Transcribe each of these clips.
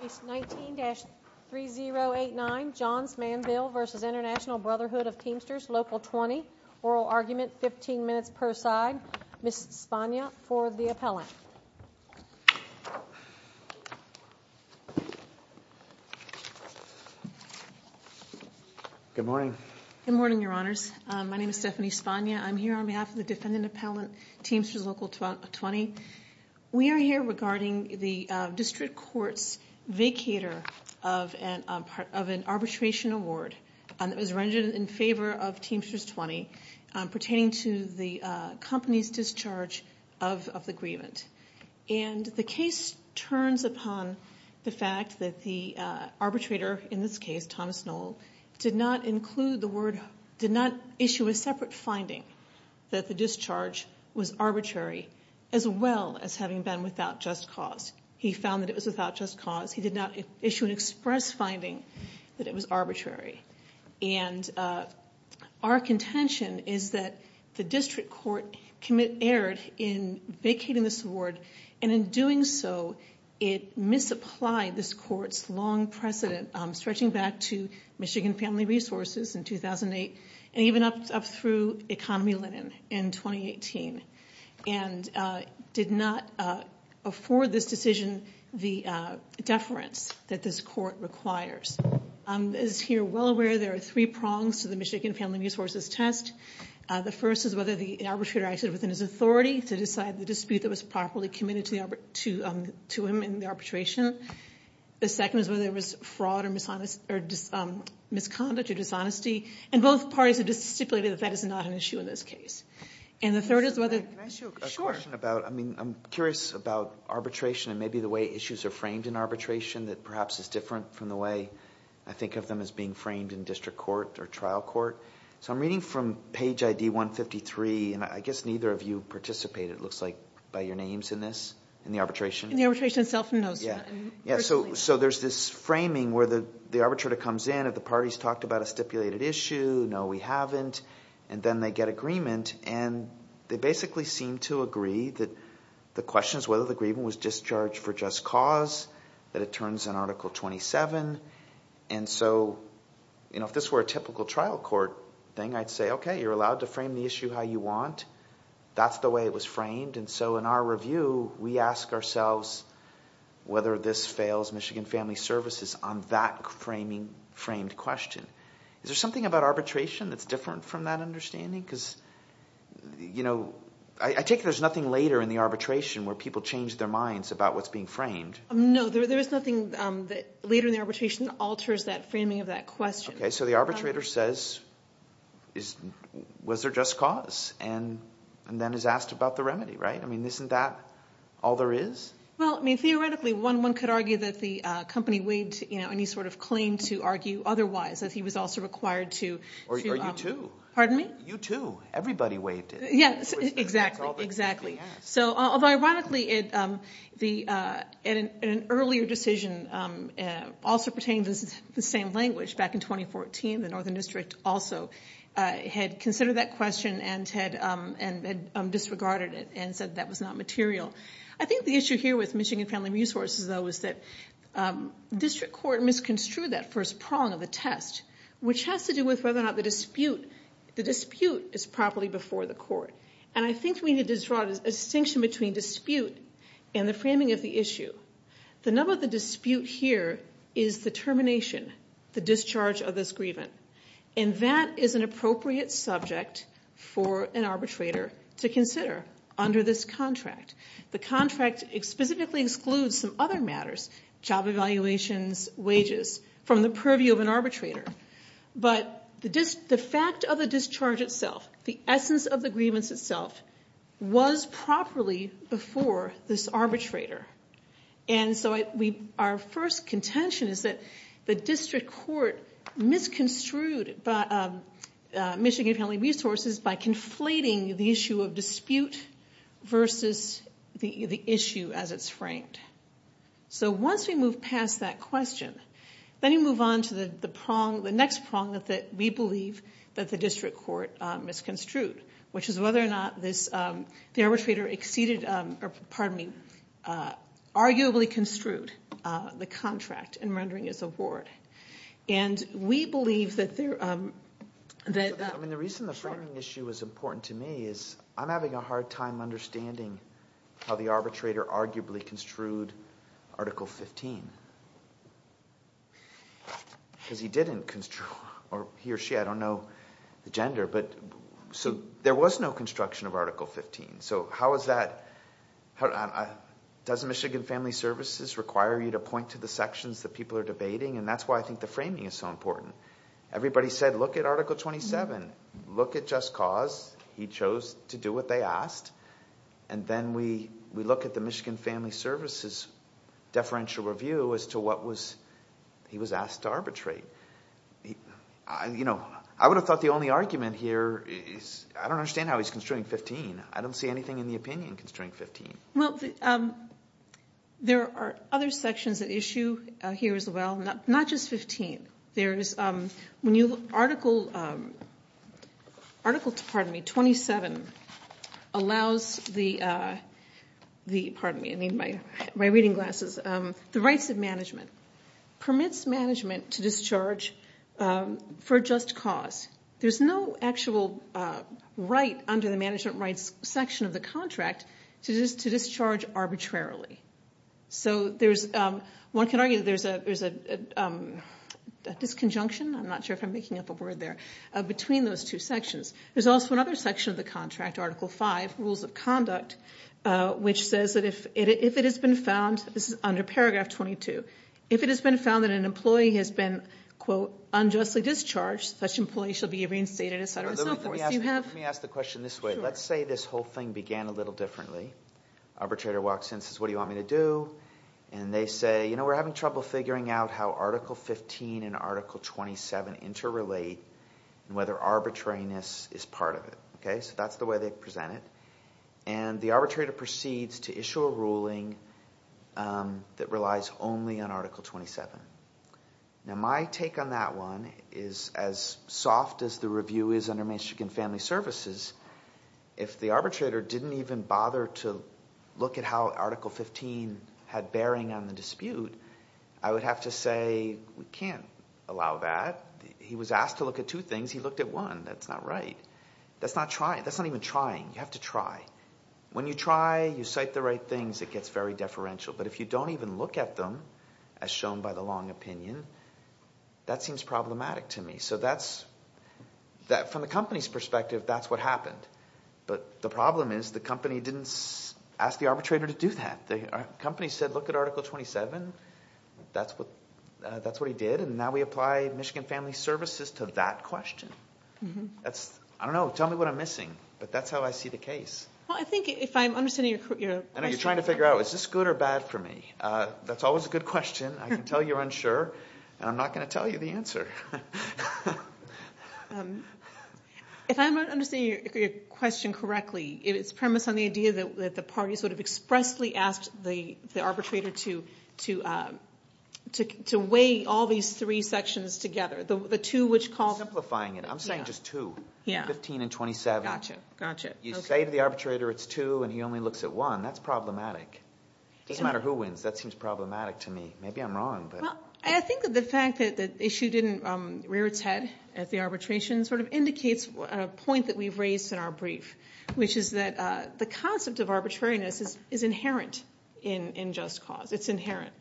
Case 19-3089, Johns Manville v. Intl Brhd of Tmstrs Local 20, Oral Argument, 15 minutes per side. Ms. Spagna for the appellant. Good morning. Good morning, Your Honors. My name is Stephanie Spagna. I'm here on behalf of the defendant appellant, Tmstrs Local 20. We are here regarding the district court's vacator of an arbitration award that was rendered in favor of Tmstrs 20 pertaining to the company's discharge of the grievance. And the case turns upon the fact that the arbitrator, in this case, Thomas Knoll, did not include the word, did not issue a separate finding that the discharge was arbitrary, as well as having been without just cause. He found that it was without just cause. He did not issue an express finding that it was arbitrary. And our contention is that the district court erred in vacating this award, and in doing so, it misapplied this court's long precedent, stretching back to Michigan Family Resources in 2008, and even up through Economy Linen in 2018. And did not afford this decision the deference that this court requires. As you're well aware, there are three prongs to the Michigan Family Resources test. The first is whether the arbitrator acted within his authority to decide the dispute that was properly committed to him in the arbitration. The second is whether it was fraud or misconduct or dishonesty. And both parties have just stipulated that that is not an issue in this case. And the third is whether... Can I ask you a question about, I mean, I'm curious about arbitration and maybe the way issues are framed in arbitration that perhaps is different from the way I think of them as being framed in district court or trial court. So I'm reading from page ID 153, and I guess neither of you participated, it looks like, by your names in this, in the arbitration? In the arbitration itself, no. Yeah. So there's this framing where the arbitrator comes in, have the parties talked about a stipulated issue? No, we haven't. And then they get agreement, and they basically seem to agree that the question is whether the agreement was discharged for just cause, that it turns in Article 27. And so if this were a typical trial court thing, I'd say, okay, you're allowed to frame the issue how you want. That's the way it was framed. And so in our review, we ask ourselves whether this fails Michigan Family Services on that framed question. Is there something about arbitration that's different from that understanding? Because I take it there's nothing later in the arbitration where people change their minds about what's being framed. No, there is nothing later in the arbitration that alters that framing of that question. Okay. So the arbitrator says, was there just cause, and then is asked about the remedy, right? I mean, isn't that all there is? Well, I mean, theoretically, one could argue that the company waived any sort of claim to argue otherwise, that he was also required to – Or you two. Pardon me? You two. Everybody waived it. Yes, exactly. Exactly. So, although, ironically, in an earlier decision, also pertaining to the same language, back in 2014, the northern district also had considered that question and disregarded it and said that was not material. I think the issue here with Michigan Family Resources, though, is that district court misconstrued that first prong of the test, which has to do with whether or not the dispute is properly before the court. And I think we need to draw a distinction between dispute and the framing of the issue. The number of the dispute here is the termination, the discharge of this grievance. And that is an appropriate subject for an arbitrator to consider under this contract. The contract specifically excludes some other matters, job evaluations, wages, from the purview of an arbitrator. But the fact of the discharge itself, the essence of the grievance itself, was properly before this arbitrator. And so our first contention is that the district court misconstrued Michigan Family Resources by conflating the issue of dispute versus the issue as it's framed. So once we move past that question, then you move on to the prong, the next prong that we believe that the district court misconstrued, which is whether or not the arbitrator exceeded, or pardon me, arguably construed the contract in rendering his award. And we believe that there... I mean, the reason the framing issue is important to me is I'm having a hard time understanding how the arbitrator arguably construed Article 15. Because he didn't construe, or he or she, I don't know the gender, but so there was no construction of Article 15. So how is that... Does Michigan Family Services require you to point to the sections that people are debating? And that's why I think the framing is so important. Everybody said, look at Article 27, look at Just Cause. He chose to do what they asked. And then we look at the Michigan Family Services deferential review as to what he was asked to arbitrate. I would have thought the only argument here is I don't understand how he's construing 15. I don't see anything in the opinion construing 15. Well, there are other sections at issue here as well, not just 15. Article 27 allows the, pardon me, my reading glasses, the rights of management, permits management to discharge for just cause. There's no actual right under the management rights section of the contract to discharge arbitrarily. So one can argue that there's a disconjunction, I'm not sure if I'm making up a word there, between those two sections. There's also another section of the contract, Article 5, Rules of Conduct, which says that if it has been found, this is under Paragraph 22, if it has been found that an employee has been, quote, unjustly discharged, such employee shall be reinstated, et cetera and so forth. Let me ask the question this way. Let's say this whole thing began a little differently. Arbitrator walks in and says, what do you want me to do? And they say, you know, we're having trouble figuring out how Article 15 and Article 27 interrelate and whether arbitrariness is part of it. So that's the way they present it. And the arbitrator proceeds to issue a ruling that relies only on Article 27. Now my take on that one is as soft as the review is under Michigan Family Services, if the arbitrator didn't even bother to look at how Article 15 had bearing on the dispute, I would have to say we can't allow that. He was asked to look at two things. He looked at one. That's not right. That's not trying. That's not even trying. You have to try. When you try, you cite the right things, it gets very deferential. But if you don't even look at them, as shown by the long opinion, that seems problematic to me. So from the company's perspective, that's what happened. But the problem is the company didn't ask the arbitrator to do that. The company said look at Article 27. That's what he did. And now we apply Michigan Family Services to that question. I don't know. Tell me what I'm missing. But that's how I see the case. Well, I think if I'm understanding your question. I know you're trying to figure out is this good or bad for me. That's always a good question. I can tell you're unsure. And I'm not going to tell you the answer. If I'm understanding your question correctly, it's premised on the idea that the parties would have expressly asked the arbitrator to weigh all these three sections together. The two which called. Simplifying it. I'm saying just two. 15 and 27. Gotcha. You say to the arbitrator it's two and he only looks at one. That's problematic. It doesn't matter who wins. That seems problematic to me. Maybe I'm wrong. I think the fact that the issue didn't rear its head at the arbitration sort of indicates a point that we've raised in our brief, which is that the concept of arbitrariness is inherent in just cause. It's inherent.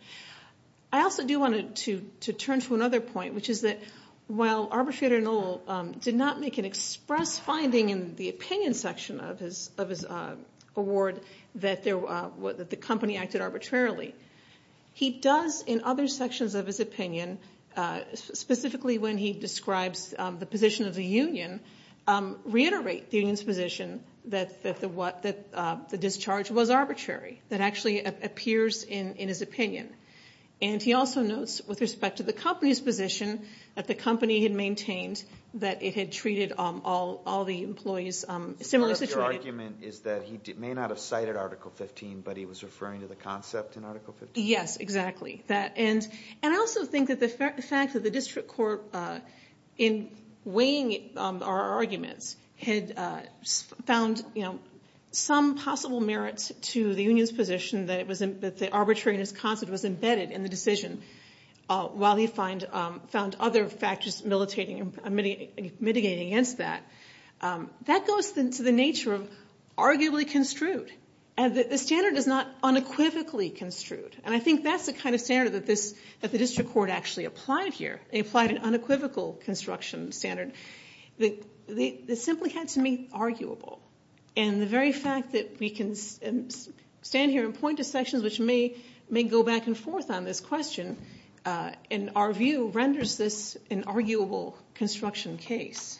I also do want to turn to another point, which is that while Arbitrator Noel did not make an express finding in the opinion section of his award that the company acted arbitrarily, he does in other sections of his opinion, specifically when he describes the position of the union, reiterate the union's position that the discharge was arbitrary. That actually appears in his opinion. And he also notes with respect to the company's position that the company had maintained that it had treated all the employees similarly. Your argument is that he may not have cited Article 15, but he was referring to the concept in Article 15? Yes, exactly. And I also think that the fact that the district court, in weighing our arguments, had found some possible merits to the union's position that the arbitrariness concept was embedded in the decision, while he found other factors mitigating against that. That goes to the nature of arguably construed. The standard is not unequivocally construed. And I think that's the kind of standard that the district court actually applied here. They applied an unequivocal construction standard. They simply had to be arguable. And the very fact that we can stand here and point to sections which may go back and forth on this question, in our view, renders this an arguable construction case.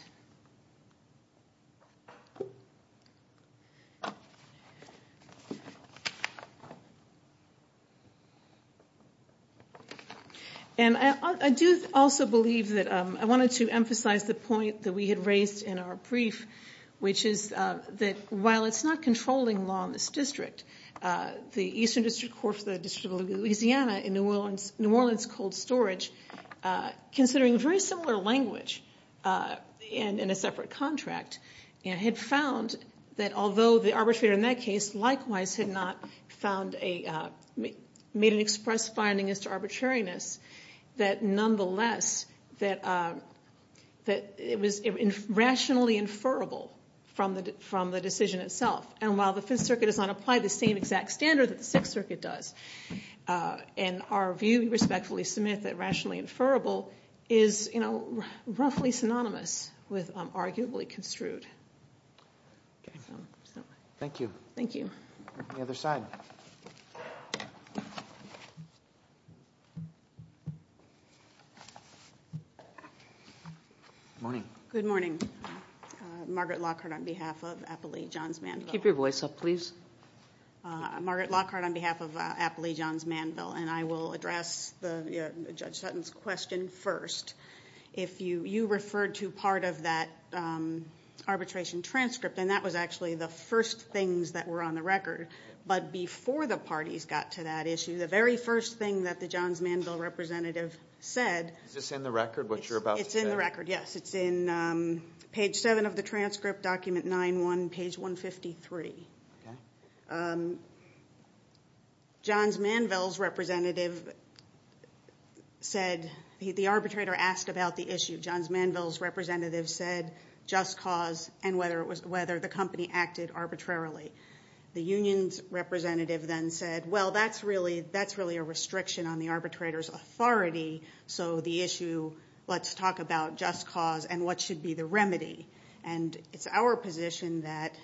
And I do also believe that I wanted to emphasize the point that we had raised in our brief, which is that while it's not controlling law in this district, the Eastern District Court for the District of Louisiana in New Orleans Cold Storage, considering very similar language in a separate contract, had found that although the arbitrator in that case likewise had not made an express finding as to arbitrariness, that nonetheless it was rationally inferable from the decision itself. And while the Fifth Circuit does not apply the same exact standard that the Sixth Circuit does, in our view, we respectfully submit that rationally inferable is roughly synonymous with arguably construed. Thank you. Thank you. Good morning. Good morning. Could you put your voice up, please? Margaret Lockhart on behalf of Appley Johns Manville. And I will address Judge Sutton's question first. If you referred to part of that arbitration transcript, and that was actually the first things that were on the record, but before the parties got to that issue, the very first thing that the Johns Manville representative said. Is this in the record, what you're about to say? It's in the record, yes. It's in page 7 of the transcript, document 9-1, page 153. Okay. Johns Manville's representative said, the arbitrator asked about the issue. Johns Manville's representative said just cause and whether the company acted arbitrarily. The union's representative then said, well, that's really a restriction on the arbitrator's authority, so the issue, let's talk about just cause and what should be the remedy. And it's our position that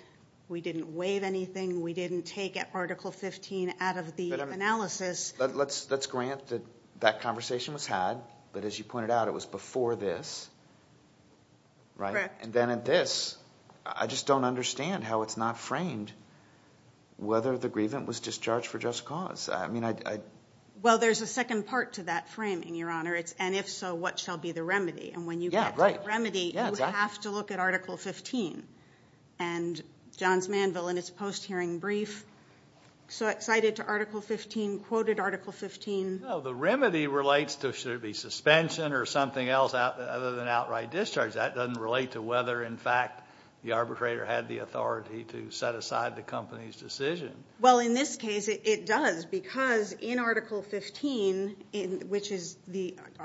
we didn't waive anything, we didn't take Article 15 out of the analysis. Let's grant that that conversation was had, but as you pointed out, it was before this, right? Correct. And then at this, I just don't understand how it's not framed, whether the grievance was discharged for just cause. Well, there's a second part to that framing, Your Honor. And if so, what shall be the remedy? And when you get to the remedy, you have to look at Article 15. And Johns Manville, in its post-hearing brief, so excited to Article 15, quoted Article 15. No, the remedy relates to should it be suspension or something else other than outright discharge. That doesn't relate to whether, in fact, the arbitrator had the authority to set aside the company's decision. Well, in this case, it does, because in Article 15, which limits the arbitrator's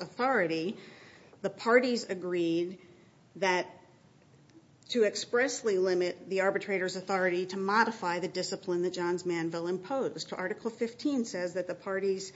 authority, the parties agreed to expressly limit the arbitrator's authority to modify the discipline that Johns Manville imposed. Article 15 says that the parties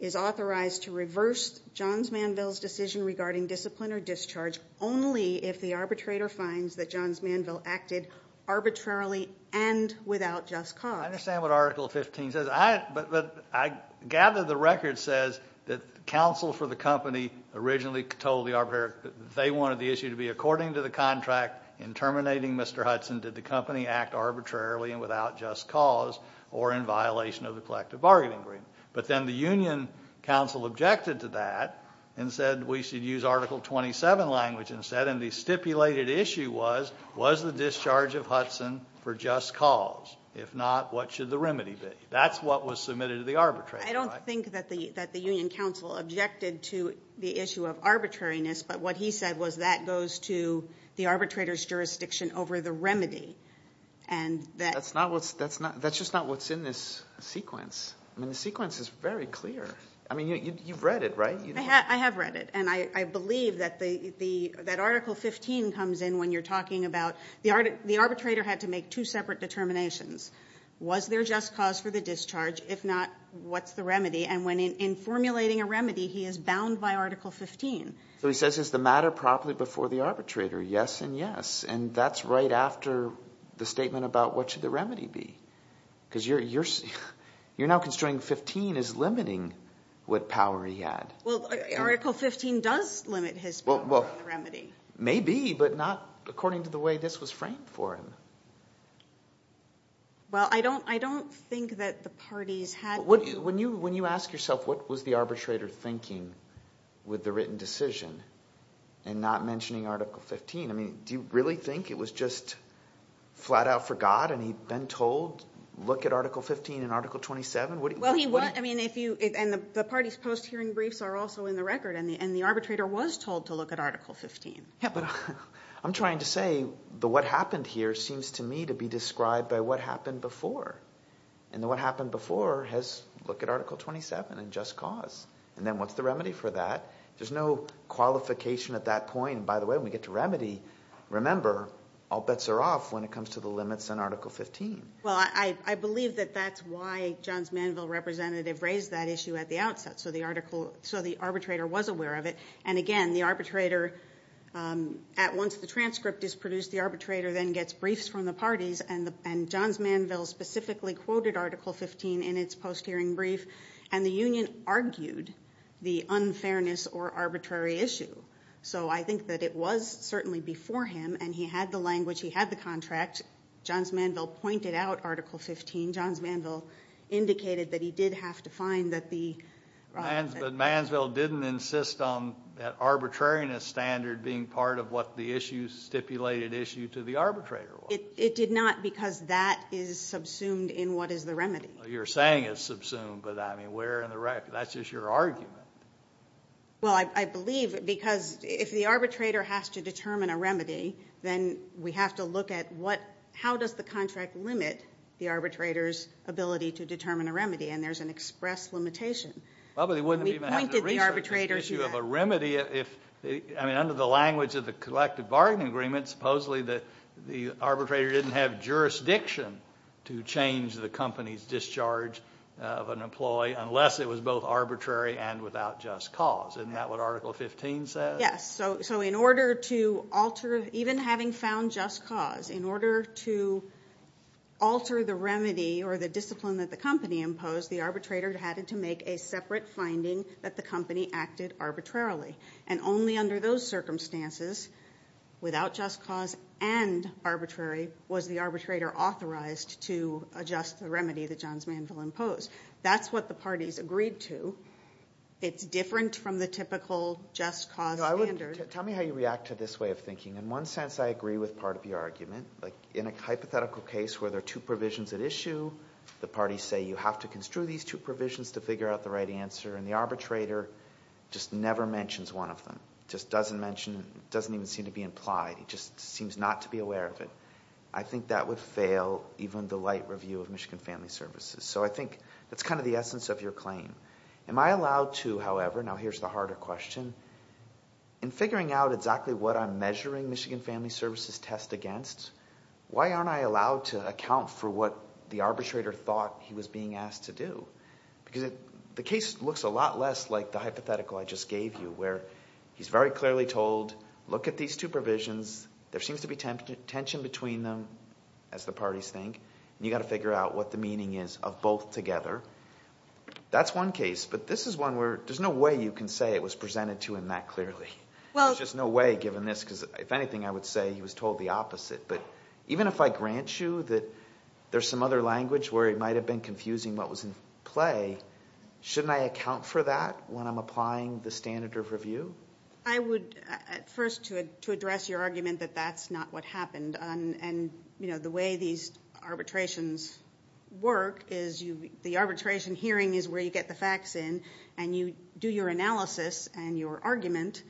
is authorized to reverse Johns Manville's decision regarding discipline or discharge only if the arbitrator finds that Johns Manville acted arbitrarily and without just cause. I understand what Article 15 says. But I gather the record says that counsel for the company originally told the arbitrator that they wanted the issue to be according to the contract in terminating Mr. Hudson, did the company act arbitrarily and without just cause or in violation of the collective bargaining agreement. But then the union counsel objected to that and said we should use Article 27 language instead. And the stipulated issue was, was the discharge of Hudson for just cause? If not, what should the remedy be? That's what was submitted to the arbitrator. I don't think that the union counsel objected to the issue of arbitrariness, but what he said was that goes to the arbitrator's jurisdiction over the remedy. That's just not what's in this sequence. The sequence is very clear. You've read it, right? I have read it. And I believe that Article 15 comes in when you're talking about the arbitrator had to make two separate determinations. Was there just cause for the discharge? If not, what's the remedy? And in formulating a remedy, he is bound by Article 15. So he says is the matter properly before the arbitrator? Yes and yes. And that's right after the statement about what should the remedy be. Because you're now constraining 15 as limiting what power he had. Well, Article 15 does limit his power on the remedy. Maybe, but not according to the way this was framed for him. Well, I don't think that the parties had to. When you ask yourself what was the arbitrator thinking with the written decision and not mentioning Article 15, do you really think it was just flat out forgot and he'd been told look at Article 15 and Article 27? Well, he would. And the parties' post-hearing briefs are also in the record. And the arbitrator was told to look at Article 15. Yeah, but I'm trying to say the what happened here seems to me to be described by what happened before. And the what happened before has look at Article 27 and just cause. And then what's the remedy for that? There's no qualification at that point. By the way, when we get to remedy, remember, all bets are off when it comes to the limits in Article 15. Well, I believe that that's why John's Manville representative raised that issue at the outset. So the arbitrator was aware of it. And, again, the arbitrator at once the transcript is produced, the arbitrator then gets briefs from the parties. And John's Manville specifically quoted Article 15 in its post-hearing brief. And the union argued the unfairness or arbitrary issue. So I think that it was certainly before him. And he had the language. He had the contract. John's Manville pointed out Article 15. John's Manville indicated that he did have to find that the riot. But Mansville didn't insist on that arbitrariness standard being part of what the issue, stipulated issue, to the arbitrator was. It did not because that is subsumed in what is the remedy. You're saying it's subsumed. But, I mean, where in the record? That's just your argument. Well, I believe because if the arbitrator has to determine a remedy, then we have to look at how does the contract limit the arbitrator's ability to determine a remedy. And there's an express limitation. Well, but it wouldn't be bad to research the issue of a remedy if, I mean, under the language of the collective bargaining agreement, supposedly the arbitrator didn't have jurisdiction to change the company's discharge of an employee unless it was both arbitrary and without just cause. Isn't that what Article 15 says? Yes. So in order to alter, even having found just cause, in order to alter the remedy or the discipline that the company imposed, the arbitrator had to make a separate finding that the company acted arbitrarily. And only under those circumstances, without just cause and arbitrary, was the arbitrator authorized to adjust the remedy that John's Manville imposed. That's what the parties agreed to. It's different from the typical just cause standard. Tell me how you react to this way of thinking. In one sense, I agree with part of your argument. In a hypothetical case where there are two provisions at issue, the parties say you have to construe these two provisions to figure out the right answer, and the arbitrator just never mentions one of them. Just doesn't mention it, doesn't even seem to be implied. He just seems not to be aware of it. I think that would fail even the light review of Michigan Family Services. So I think that's kind of the essence of your claim. Am I allowed to, however, now here's the harder question, in figuring out exactly what I'm measuring Michigan Family Services' test against, why aren't I allowed to account for what the arbitrator thought he was being asked to do? Because the case looks a lot less like the hypothetical I just gave you, where he's very clearly told, look at these two provisions, there seems to be tension between them, as the parties think, and you've got to figure out what the meaning is of both together. That's one case, but this is one where there's no way you can say it was presented to him that clearly. There's just no way given this, because if anything, I would say he was told the opposite. But even if I grant you that there's some other language where he might have been confusing what was in play, shouldn't I account for that when I'm applying the standard of review? I would first, to address your argument that that's not what happened, and the way these arbitrations work is the arbitration hearing is where you get the facts in, and you do your analysis and your argument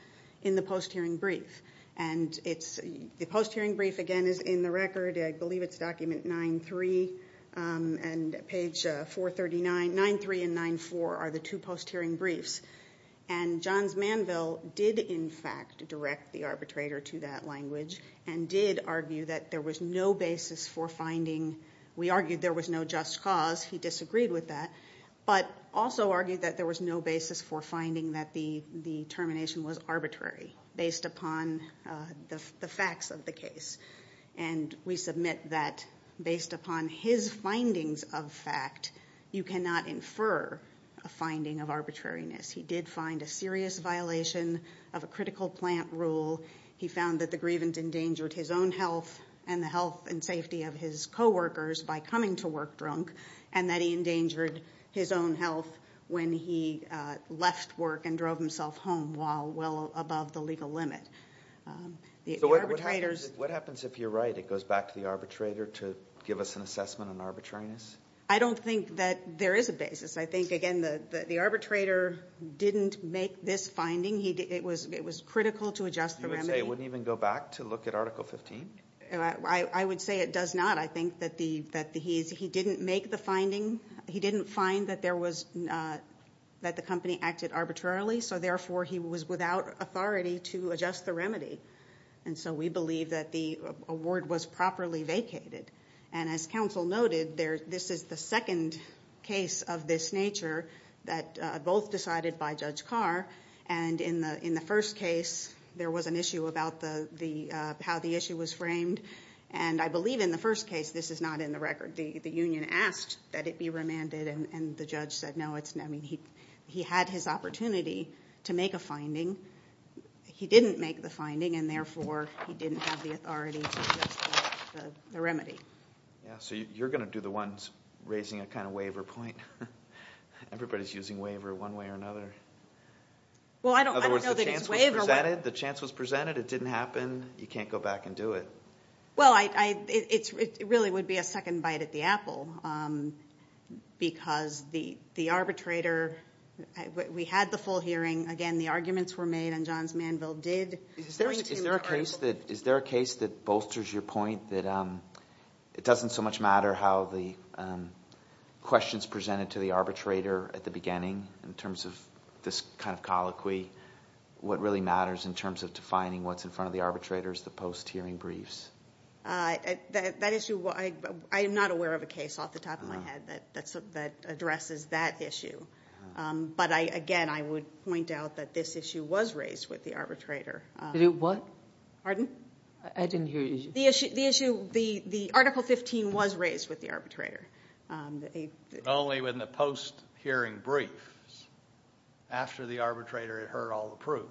in the post-hearing brief. And the post-hearing brief, again, is in the record, I believe it's document 9-3, and page 439, 9-3 and 9-4 are the two post-hearing briefs. And Johns Manville did, in fact, direct the arbitrator to that language and did argue that there was no basis for finding, we argued there was no just cause, he disagreed with that, but also argued that there was no basis for finding that the termination was arbitrary based upon the facts of the case. And we submit that based upon his findings of fact, you cannot infer a finding of arbitrariness. He did find a serious violation of a critical plant rule. He found that the grievance endangered his own health and the health and safety of his coworkers by coming to work drunk, and that he endangered his own health when he left work and drove himself home while well above the legal limit. So what happens if you're right, it goes back to the arbitrator to give us an assessment on arbitrariness? I don't think that there is a basis. I think, again, the arbitrator didn't make this finding. It was critical to adjust the remedy. You would say it wouldn't even go back to look at Article 15? I would say it does not. I think that he didn't make the finding. He didn't find that the company acted arbitrarily, so therefore he was without authority to adjust the remedy. And so we believe that the award was properly vacated. And as counsel noted, this is the second case of this nature that both decided by Judge Carr, and in the first case there was an issue about how the issue was framed, and I believe in the first case this is not in the record. The union asked that it be remanded, and the judge said no. He had his opportunity to make a finding. He didn't make the finding, and therefore he didn't have the authority to adjust the remedy. Yeah, so you're going to do the ones raising a kind of waiver point. Everybody's using waiver one way or another. Well, I don't know that it's waiver. In other words, the chance was presented. It didn't happen. You can't go back and do it. Well, it really would be a second bite at the apple because the arbitrator, we had the full hearing. Again, the arguments were made, and Johns Manville did bring to the court. Is there a case that bolsters your point that it doesn't so much matter how the questions presented to the arbitrator at the beginning in terms of this kind of colloquy? What really matters in terms of defining what's in front of the arbitrators, the post-hearing briefs? That issue, I am not aware of a case off the top of my head that addresses that issue. But, again, I would point out that this issue was raised with the arbitrator. Did it what? Pardon? I didn't hear you. The issue, the Article 15 was raised with the arbitrator. Only when the post-hearing briefs, after the arbitrator had heard all the proof.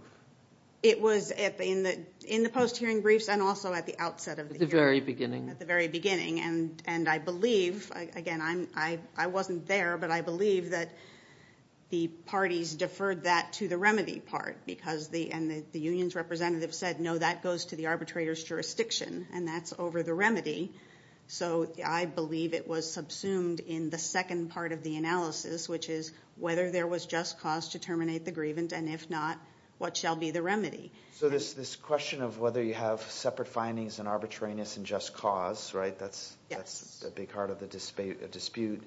It was in the post-hearing briefs and also at the outset of the hearing. At the very beginning. At the very beginning. And I believe, again, I wasn't there, but I believe that the parties deferred that to the remedy part. Because the union's representative said, no, that goes to the arbitrator's jurisdiction. And that's over the remedy. So I believe it was subsumed in the second part of the analysis, which is whether there was just cause to terminate the grievance. And if not, what shall be the remedy? So this question of whether you have separate findings and arbitrariness and just cause, right? That's a big part of the dispute.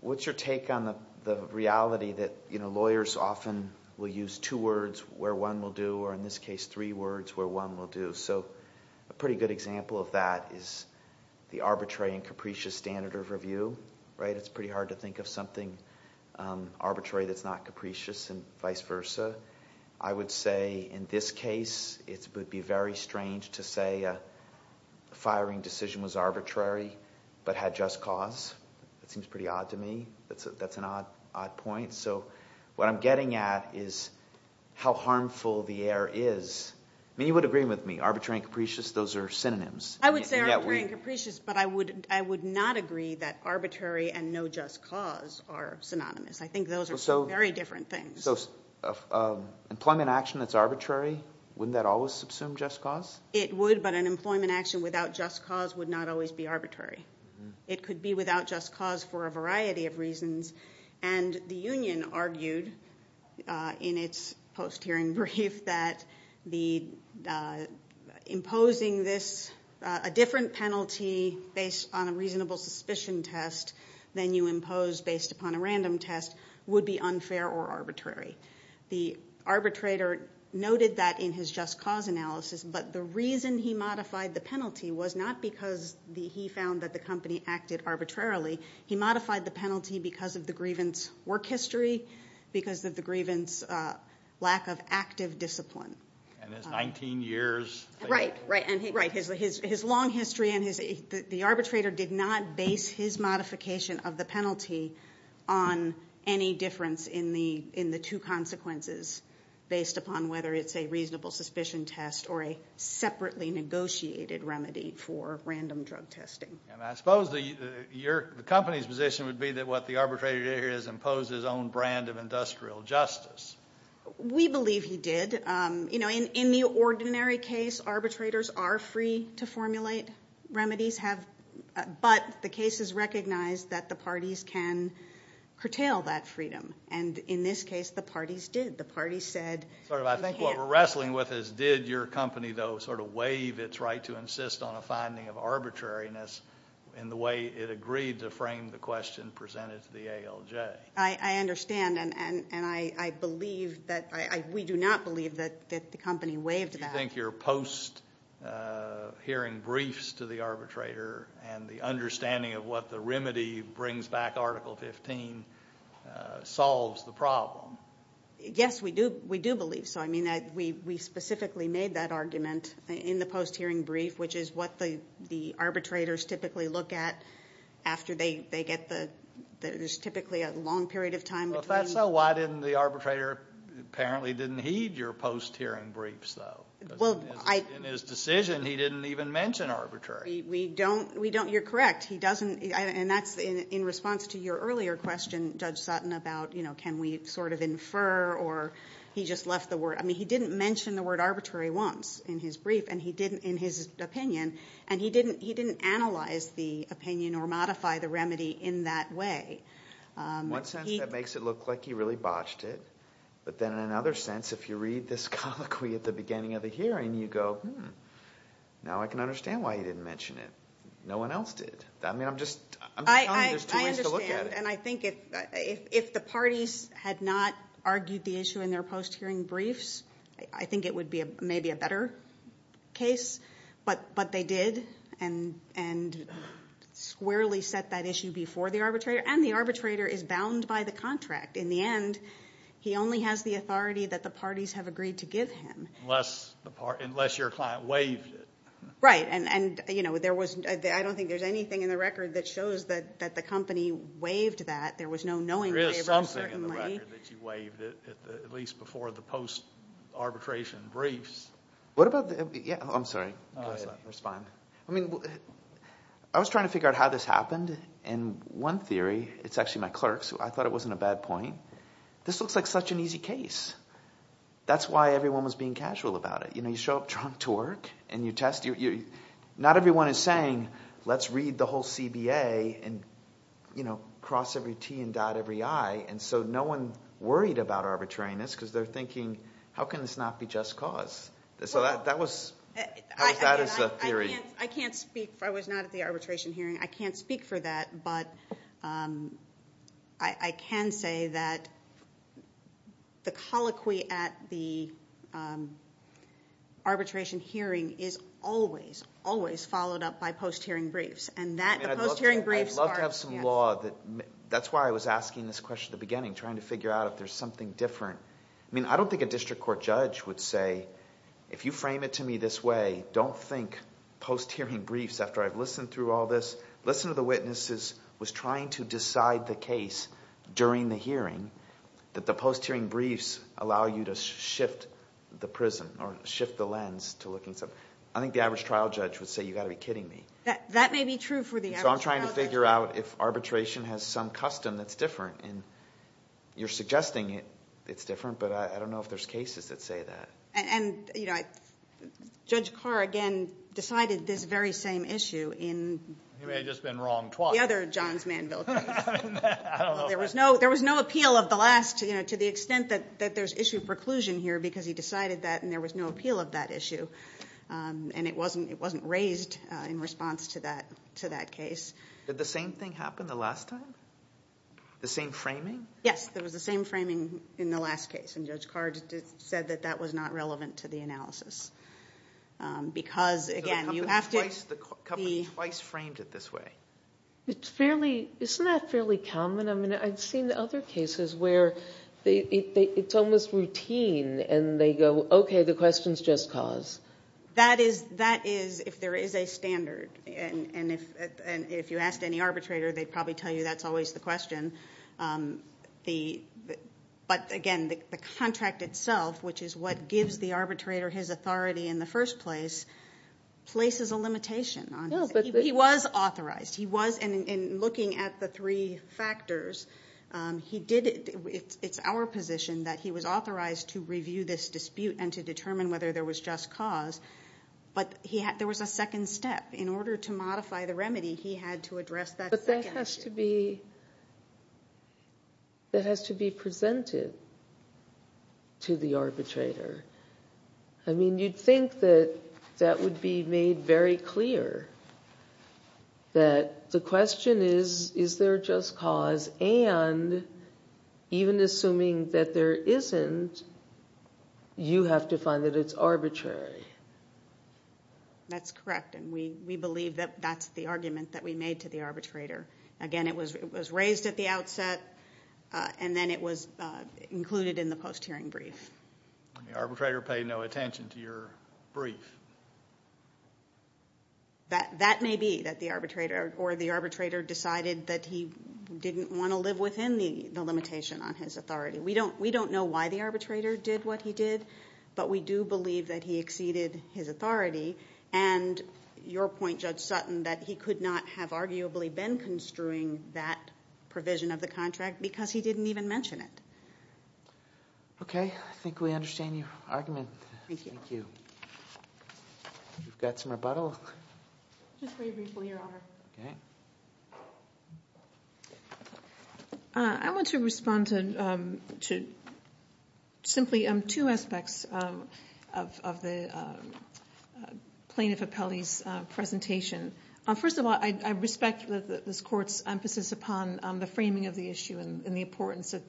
What's your take on the reality that lawyers often will use two words where one will do, or in this case, three words where one will do? So a pretty good example of that is the arbitrary and capricious standard of review. It's pretty hard to think of something arbitrary that's not capricious and vice versa. I would say, in this case, it would be very strange to say a firing decision was arbitrary but had just cause. That seems pretty odd to me. That's an odd point. So what I'm getting at is how harmful the error is. I mean, you would agree with me. Arbitrary and capricious, those are synonyms. I would say arbitrary and capricious, but I would not agree that arbitrary and no just cause are synonymous. I think those are two very different things. So employment action that's arbitrary, wouldn't that always subsume just cause? It would, but an employment action without just cause would not always be arbitrary. It could be without just cause for a variety of reasons. And the union argued in its post-hearing brief that imposing this, a different penalty based on a reasonable suspicion test than you impose based upon a random test, would be unfair or arbitrary. The arbitrator noted that in his just cause analysis, but the reason he modified the penalty was not because he found that the company acted arbitrarily. He modified the penalty because of the grievance work history, because of the grievance lack of active discipline. And his 19 years. Right, right. And his long history and his, the arbitrator did not base his modification of the penalty on any difference in the two consequences based upon whether it's a reasonable suspicion test or a separately negotiated remedy for random drug testing. And I suppose the company's position would be that what the arbitrator did here is impose his own brand of industrial justice. We believe he did. In the ordinary case, arbitrators are free to formulate remedies, but the case is recognized that the parties can curtail that freedom. And in this case, the parties did. The parties said you can't. I think what we're wrestling with is did your company, though, sort of waive its right to insist on a finding of arbitrariness in the way it agreed to frame the question presented to the ALJ? I understand, and I believe that, we do not believe that the company waived that. Do you think your post-hearing briefs to the arbitrator and the understanding of what the remedy brings back Article 15 solves the problem? Yes, we do believe so. I mean, we specifically made that argument in the post-hearing brief, which is what the arbitrators typically look at after they get the ñ there's typically a long period of time between. Well, if that's so, why didn't the arbitrator apparently didn't heed your post-hearing briefs, though? In his decision, he didn't even mention arbitrary. You're correct. And that's in response to your earlier question, Judge Sutton, about can we sort of infer or he just left the word ñ I mean, he didn't mention the word arbitrary once in his brief, and he didn't in his opinion, and he didn't analyze the opinion or modify the remedy in that way. One sense that makes it look like he really botched it, but then in another sense, if you read this colloquy at the beginning of the hearing, you go, hmm, now I can understand why he didn't mention it. No one else did. I mean, I'm just telling you there's two ways to look at it. And I think if the parties had not argued the issue in their post-hearing briefs, I think it would be maybe a better case. But they did and squarely set that issue before the arbitrator. And the arbitrator is bound by the contract. In the end, he only has the authority that the parties have agreed to give him. Unless your client waived it. Right. And, you know, I don't think there's anything in the record that shows that the company waived that. There was no knowing favor, certainly. There is something in the record that you waived, at least before the post-arbitration briefs. What about the ñ yeah, I'm sorry. It's fine. I mean, I was trying to figure out how this happened. And one theory ñ it's actually my clerk's. I thought it wasn't a bad point. This looks like such an easy case. That's why everyone was being casual about it. You know, you show up drunk to work and you test. Not everyone is saying, let's read the whole CBA and, you know, cross every T and dot every I. And so no one worried about arbitrariness because they're thinking, how can this not be just cause? So that was ñ how was that as a theory? I can't speak ñ I was not at the arbitration hearing. I can't speak for that, but I can say that the colloquy at the arbitration hearing is always, always followed up by post-hearing briefs. And that post-hearing briefs are ñ I'd love to have some law that ñ that's why I was asking this question at the beginning, trying to figure out if there's something different. I mean, I don't think a district court judge would say, if you frame it to me this way, I don't think post-hearing briefs, after I've listened through all this, listened to the witnesses, was trying to decide the case during the hearing that the post-hearing briefs allow you to shift the prism or shift the lens to looking at something. I think the average trial judge would say, you've got to be kidding me. That may be true for the average trial judge. So I'm trying to figure out if arbitration has some custom that's different. And you're suggesting it's different, but I don't know if there's cases that say that. And, you know, Judge Carr, again, decided this very same issue in ñ He may have just been wrong twice. ñ the other Johns Manville case. I don't know. There was no ñ there was no appeal of the last, you know, to the extent that there's issue of preclusion here because he decided that and there was no appeal of that issue. And it wasn't ñ it wasn't raised in response to that ñ to that case. Did the same thing happen the last time? The same framing? Yes, there was the same framing in the last case. And Judge Carr just said that that was not relevant to the analysis. Because, again, you have to ñ So a couple twice, the couple twice framed it this way. It's fairly ñ isn't that fairly common? I mean, I've seen other cases where it's almost routine and they go, okay, the question's just cause. That is ñ that is if there is a standard. And if you asked any arbitrator, they'd probably tell you that's always the question. But, again, the contract itself, which is what gives the arbitrator his authority in the first place, places a limitation on his ñ No, but the ñ He was authorized. He was ñ and looking at the three factors, he did ñ it's our position that he was authorized to review this dispute and to determine whether there was just cause. But he had ñ there was a second step. In order to modify the remedy, he had to address that second issue. But that has to be ñ that has to be presented to the arbitrator. I mean, you'd think that that would be made very clear, that the question is, is there just cause, and even assuming that there isn't, you have to find that it's arbitrary. That's correct. And we believe that that's the argument that we made to the arbitrator. Again, it was raised at the outset, and then it was included in the post-hearing brief. The arbitrator paid no attention to your brief. That may be that the arbitrator or the arbitrator decided that he didn't want to live within the limitation on his authority. We don't ñ we don't know why the arbitrator did what he did, but we do believe that he exceeded his authority. And your point, Judge Sutton, that he could not have arguably been construing that provision of the contract because he didn't even mention it. Okay. I think we understand your argument. Thank you. Thank you. We've got some rebuttal. Just very briefly, Your Honor. Okay. I want to respond to simply two aspects of the plaintiff appellee's presentation. First of all, I respect this Court's emphasis upon the framing of the issue and the importance that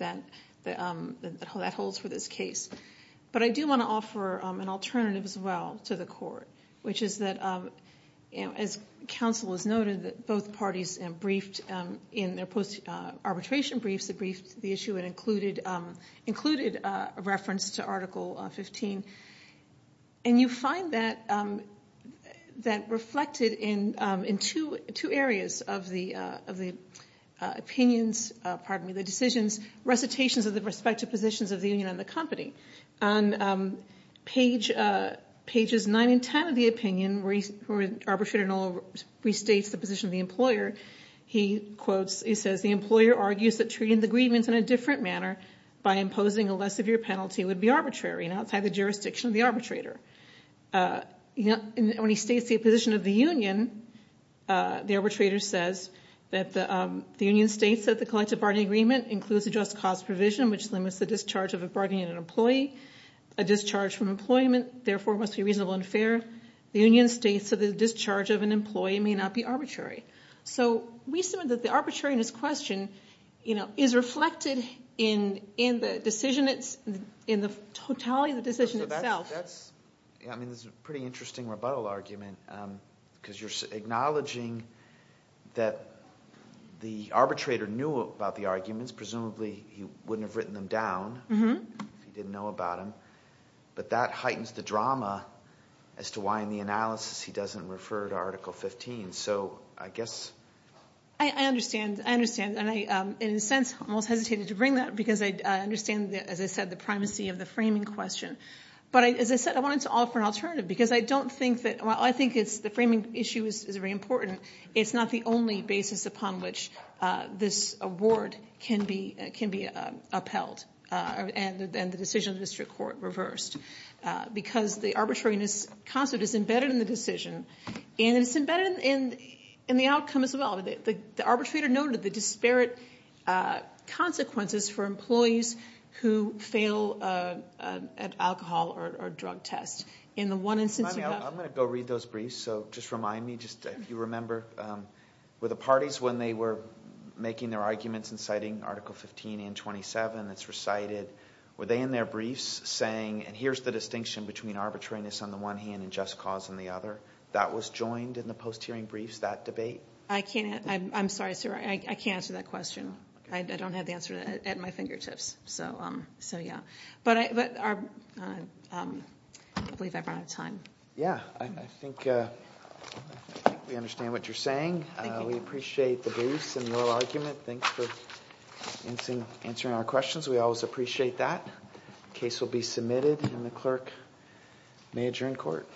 that holds for this case. But I do want to offer an alternative as well to the Court, which is that, as counsel has noted, that both parties briefed in their post-arbitration briefs, they briefed the issue and included a reference to Article 15. And you find that reflected in two areas of the opinions, pardon me, the decisions, recitations of the respective positions of the union and the company. On pages 9 and 10 of the opinion, where the arbitrator restates the position of the employer, he quotes, he says, the employer argues that treating the grievance in a different manner by imposing a less severe penalty would be arbitrary and outside the jurisdiction of the arbitrator. When he states the position of the union, the arbitrator says that the union states that the collective bargaining agreement includes a just cause provision, which limits the discharge of a bargaining employee, a discharge from employment, therefore it must be reasonable and fair. The union states that the discharge of an employee may not be arbitrary. So we assume that the arbitrariness question is reflected in the decision, in the totality of the decision itself. I mean, this is a pretty interesting rebuttal argument, because you're acknowledging that the arbitrator knew about the arguments. Presumably he wouldn't have written them down if he didn't know about them. But that heightens the drama as to why in the analysis he doesn't refer to Article 15. So I guess... I understand. I understand. And in a sense, I almost hesitated to bring that, because I understand, as I said, the primacy of the framing question. But as I said, I wanted to offer an alternative, because I don't think that... Well, I think the framing issue is very important. It's not the only basis upon which this award can be upheld and the decision of the district court reversed, because the arbitrariness concept is embedded in the decision, and it's embedded in the outcome as well. The arbitrator noted the disparate consequences for employees who fail an alcohol or drug test. In the one instance... I'm going to go read those briefs, so just remind me, if you remember, were the parties when they were making their arguments and citing Article 15 and 27 that's recited, were they in their briefs saying, and here's the distinction between arbitrariness on the one hand and just cause on the other? That was joined in the post-hearing briefs, that debate? I'm sorry, sir, I can't answer that question. I don't have the answer at my fingertips. So, yeah. But I believe I've run out of time. Yeah, I think we understand what you're saying. We appreciate the briefs and your argument. Thanks for answering our questions. We always appreciate that. The case will be submitted, and the clerk may adjourn court.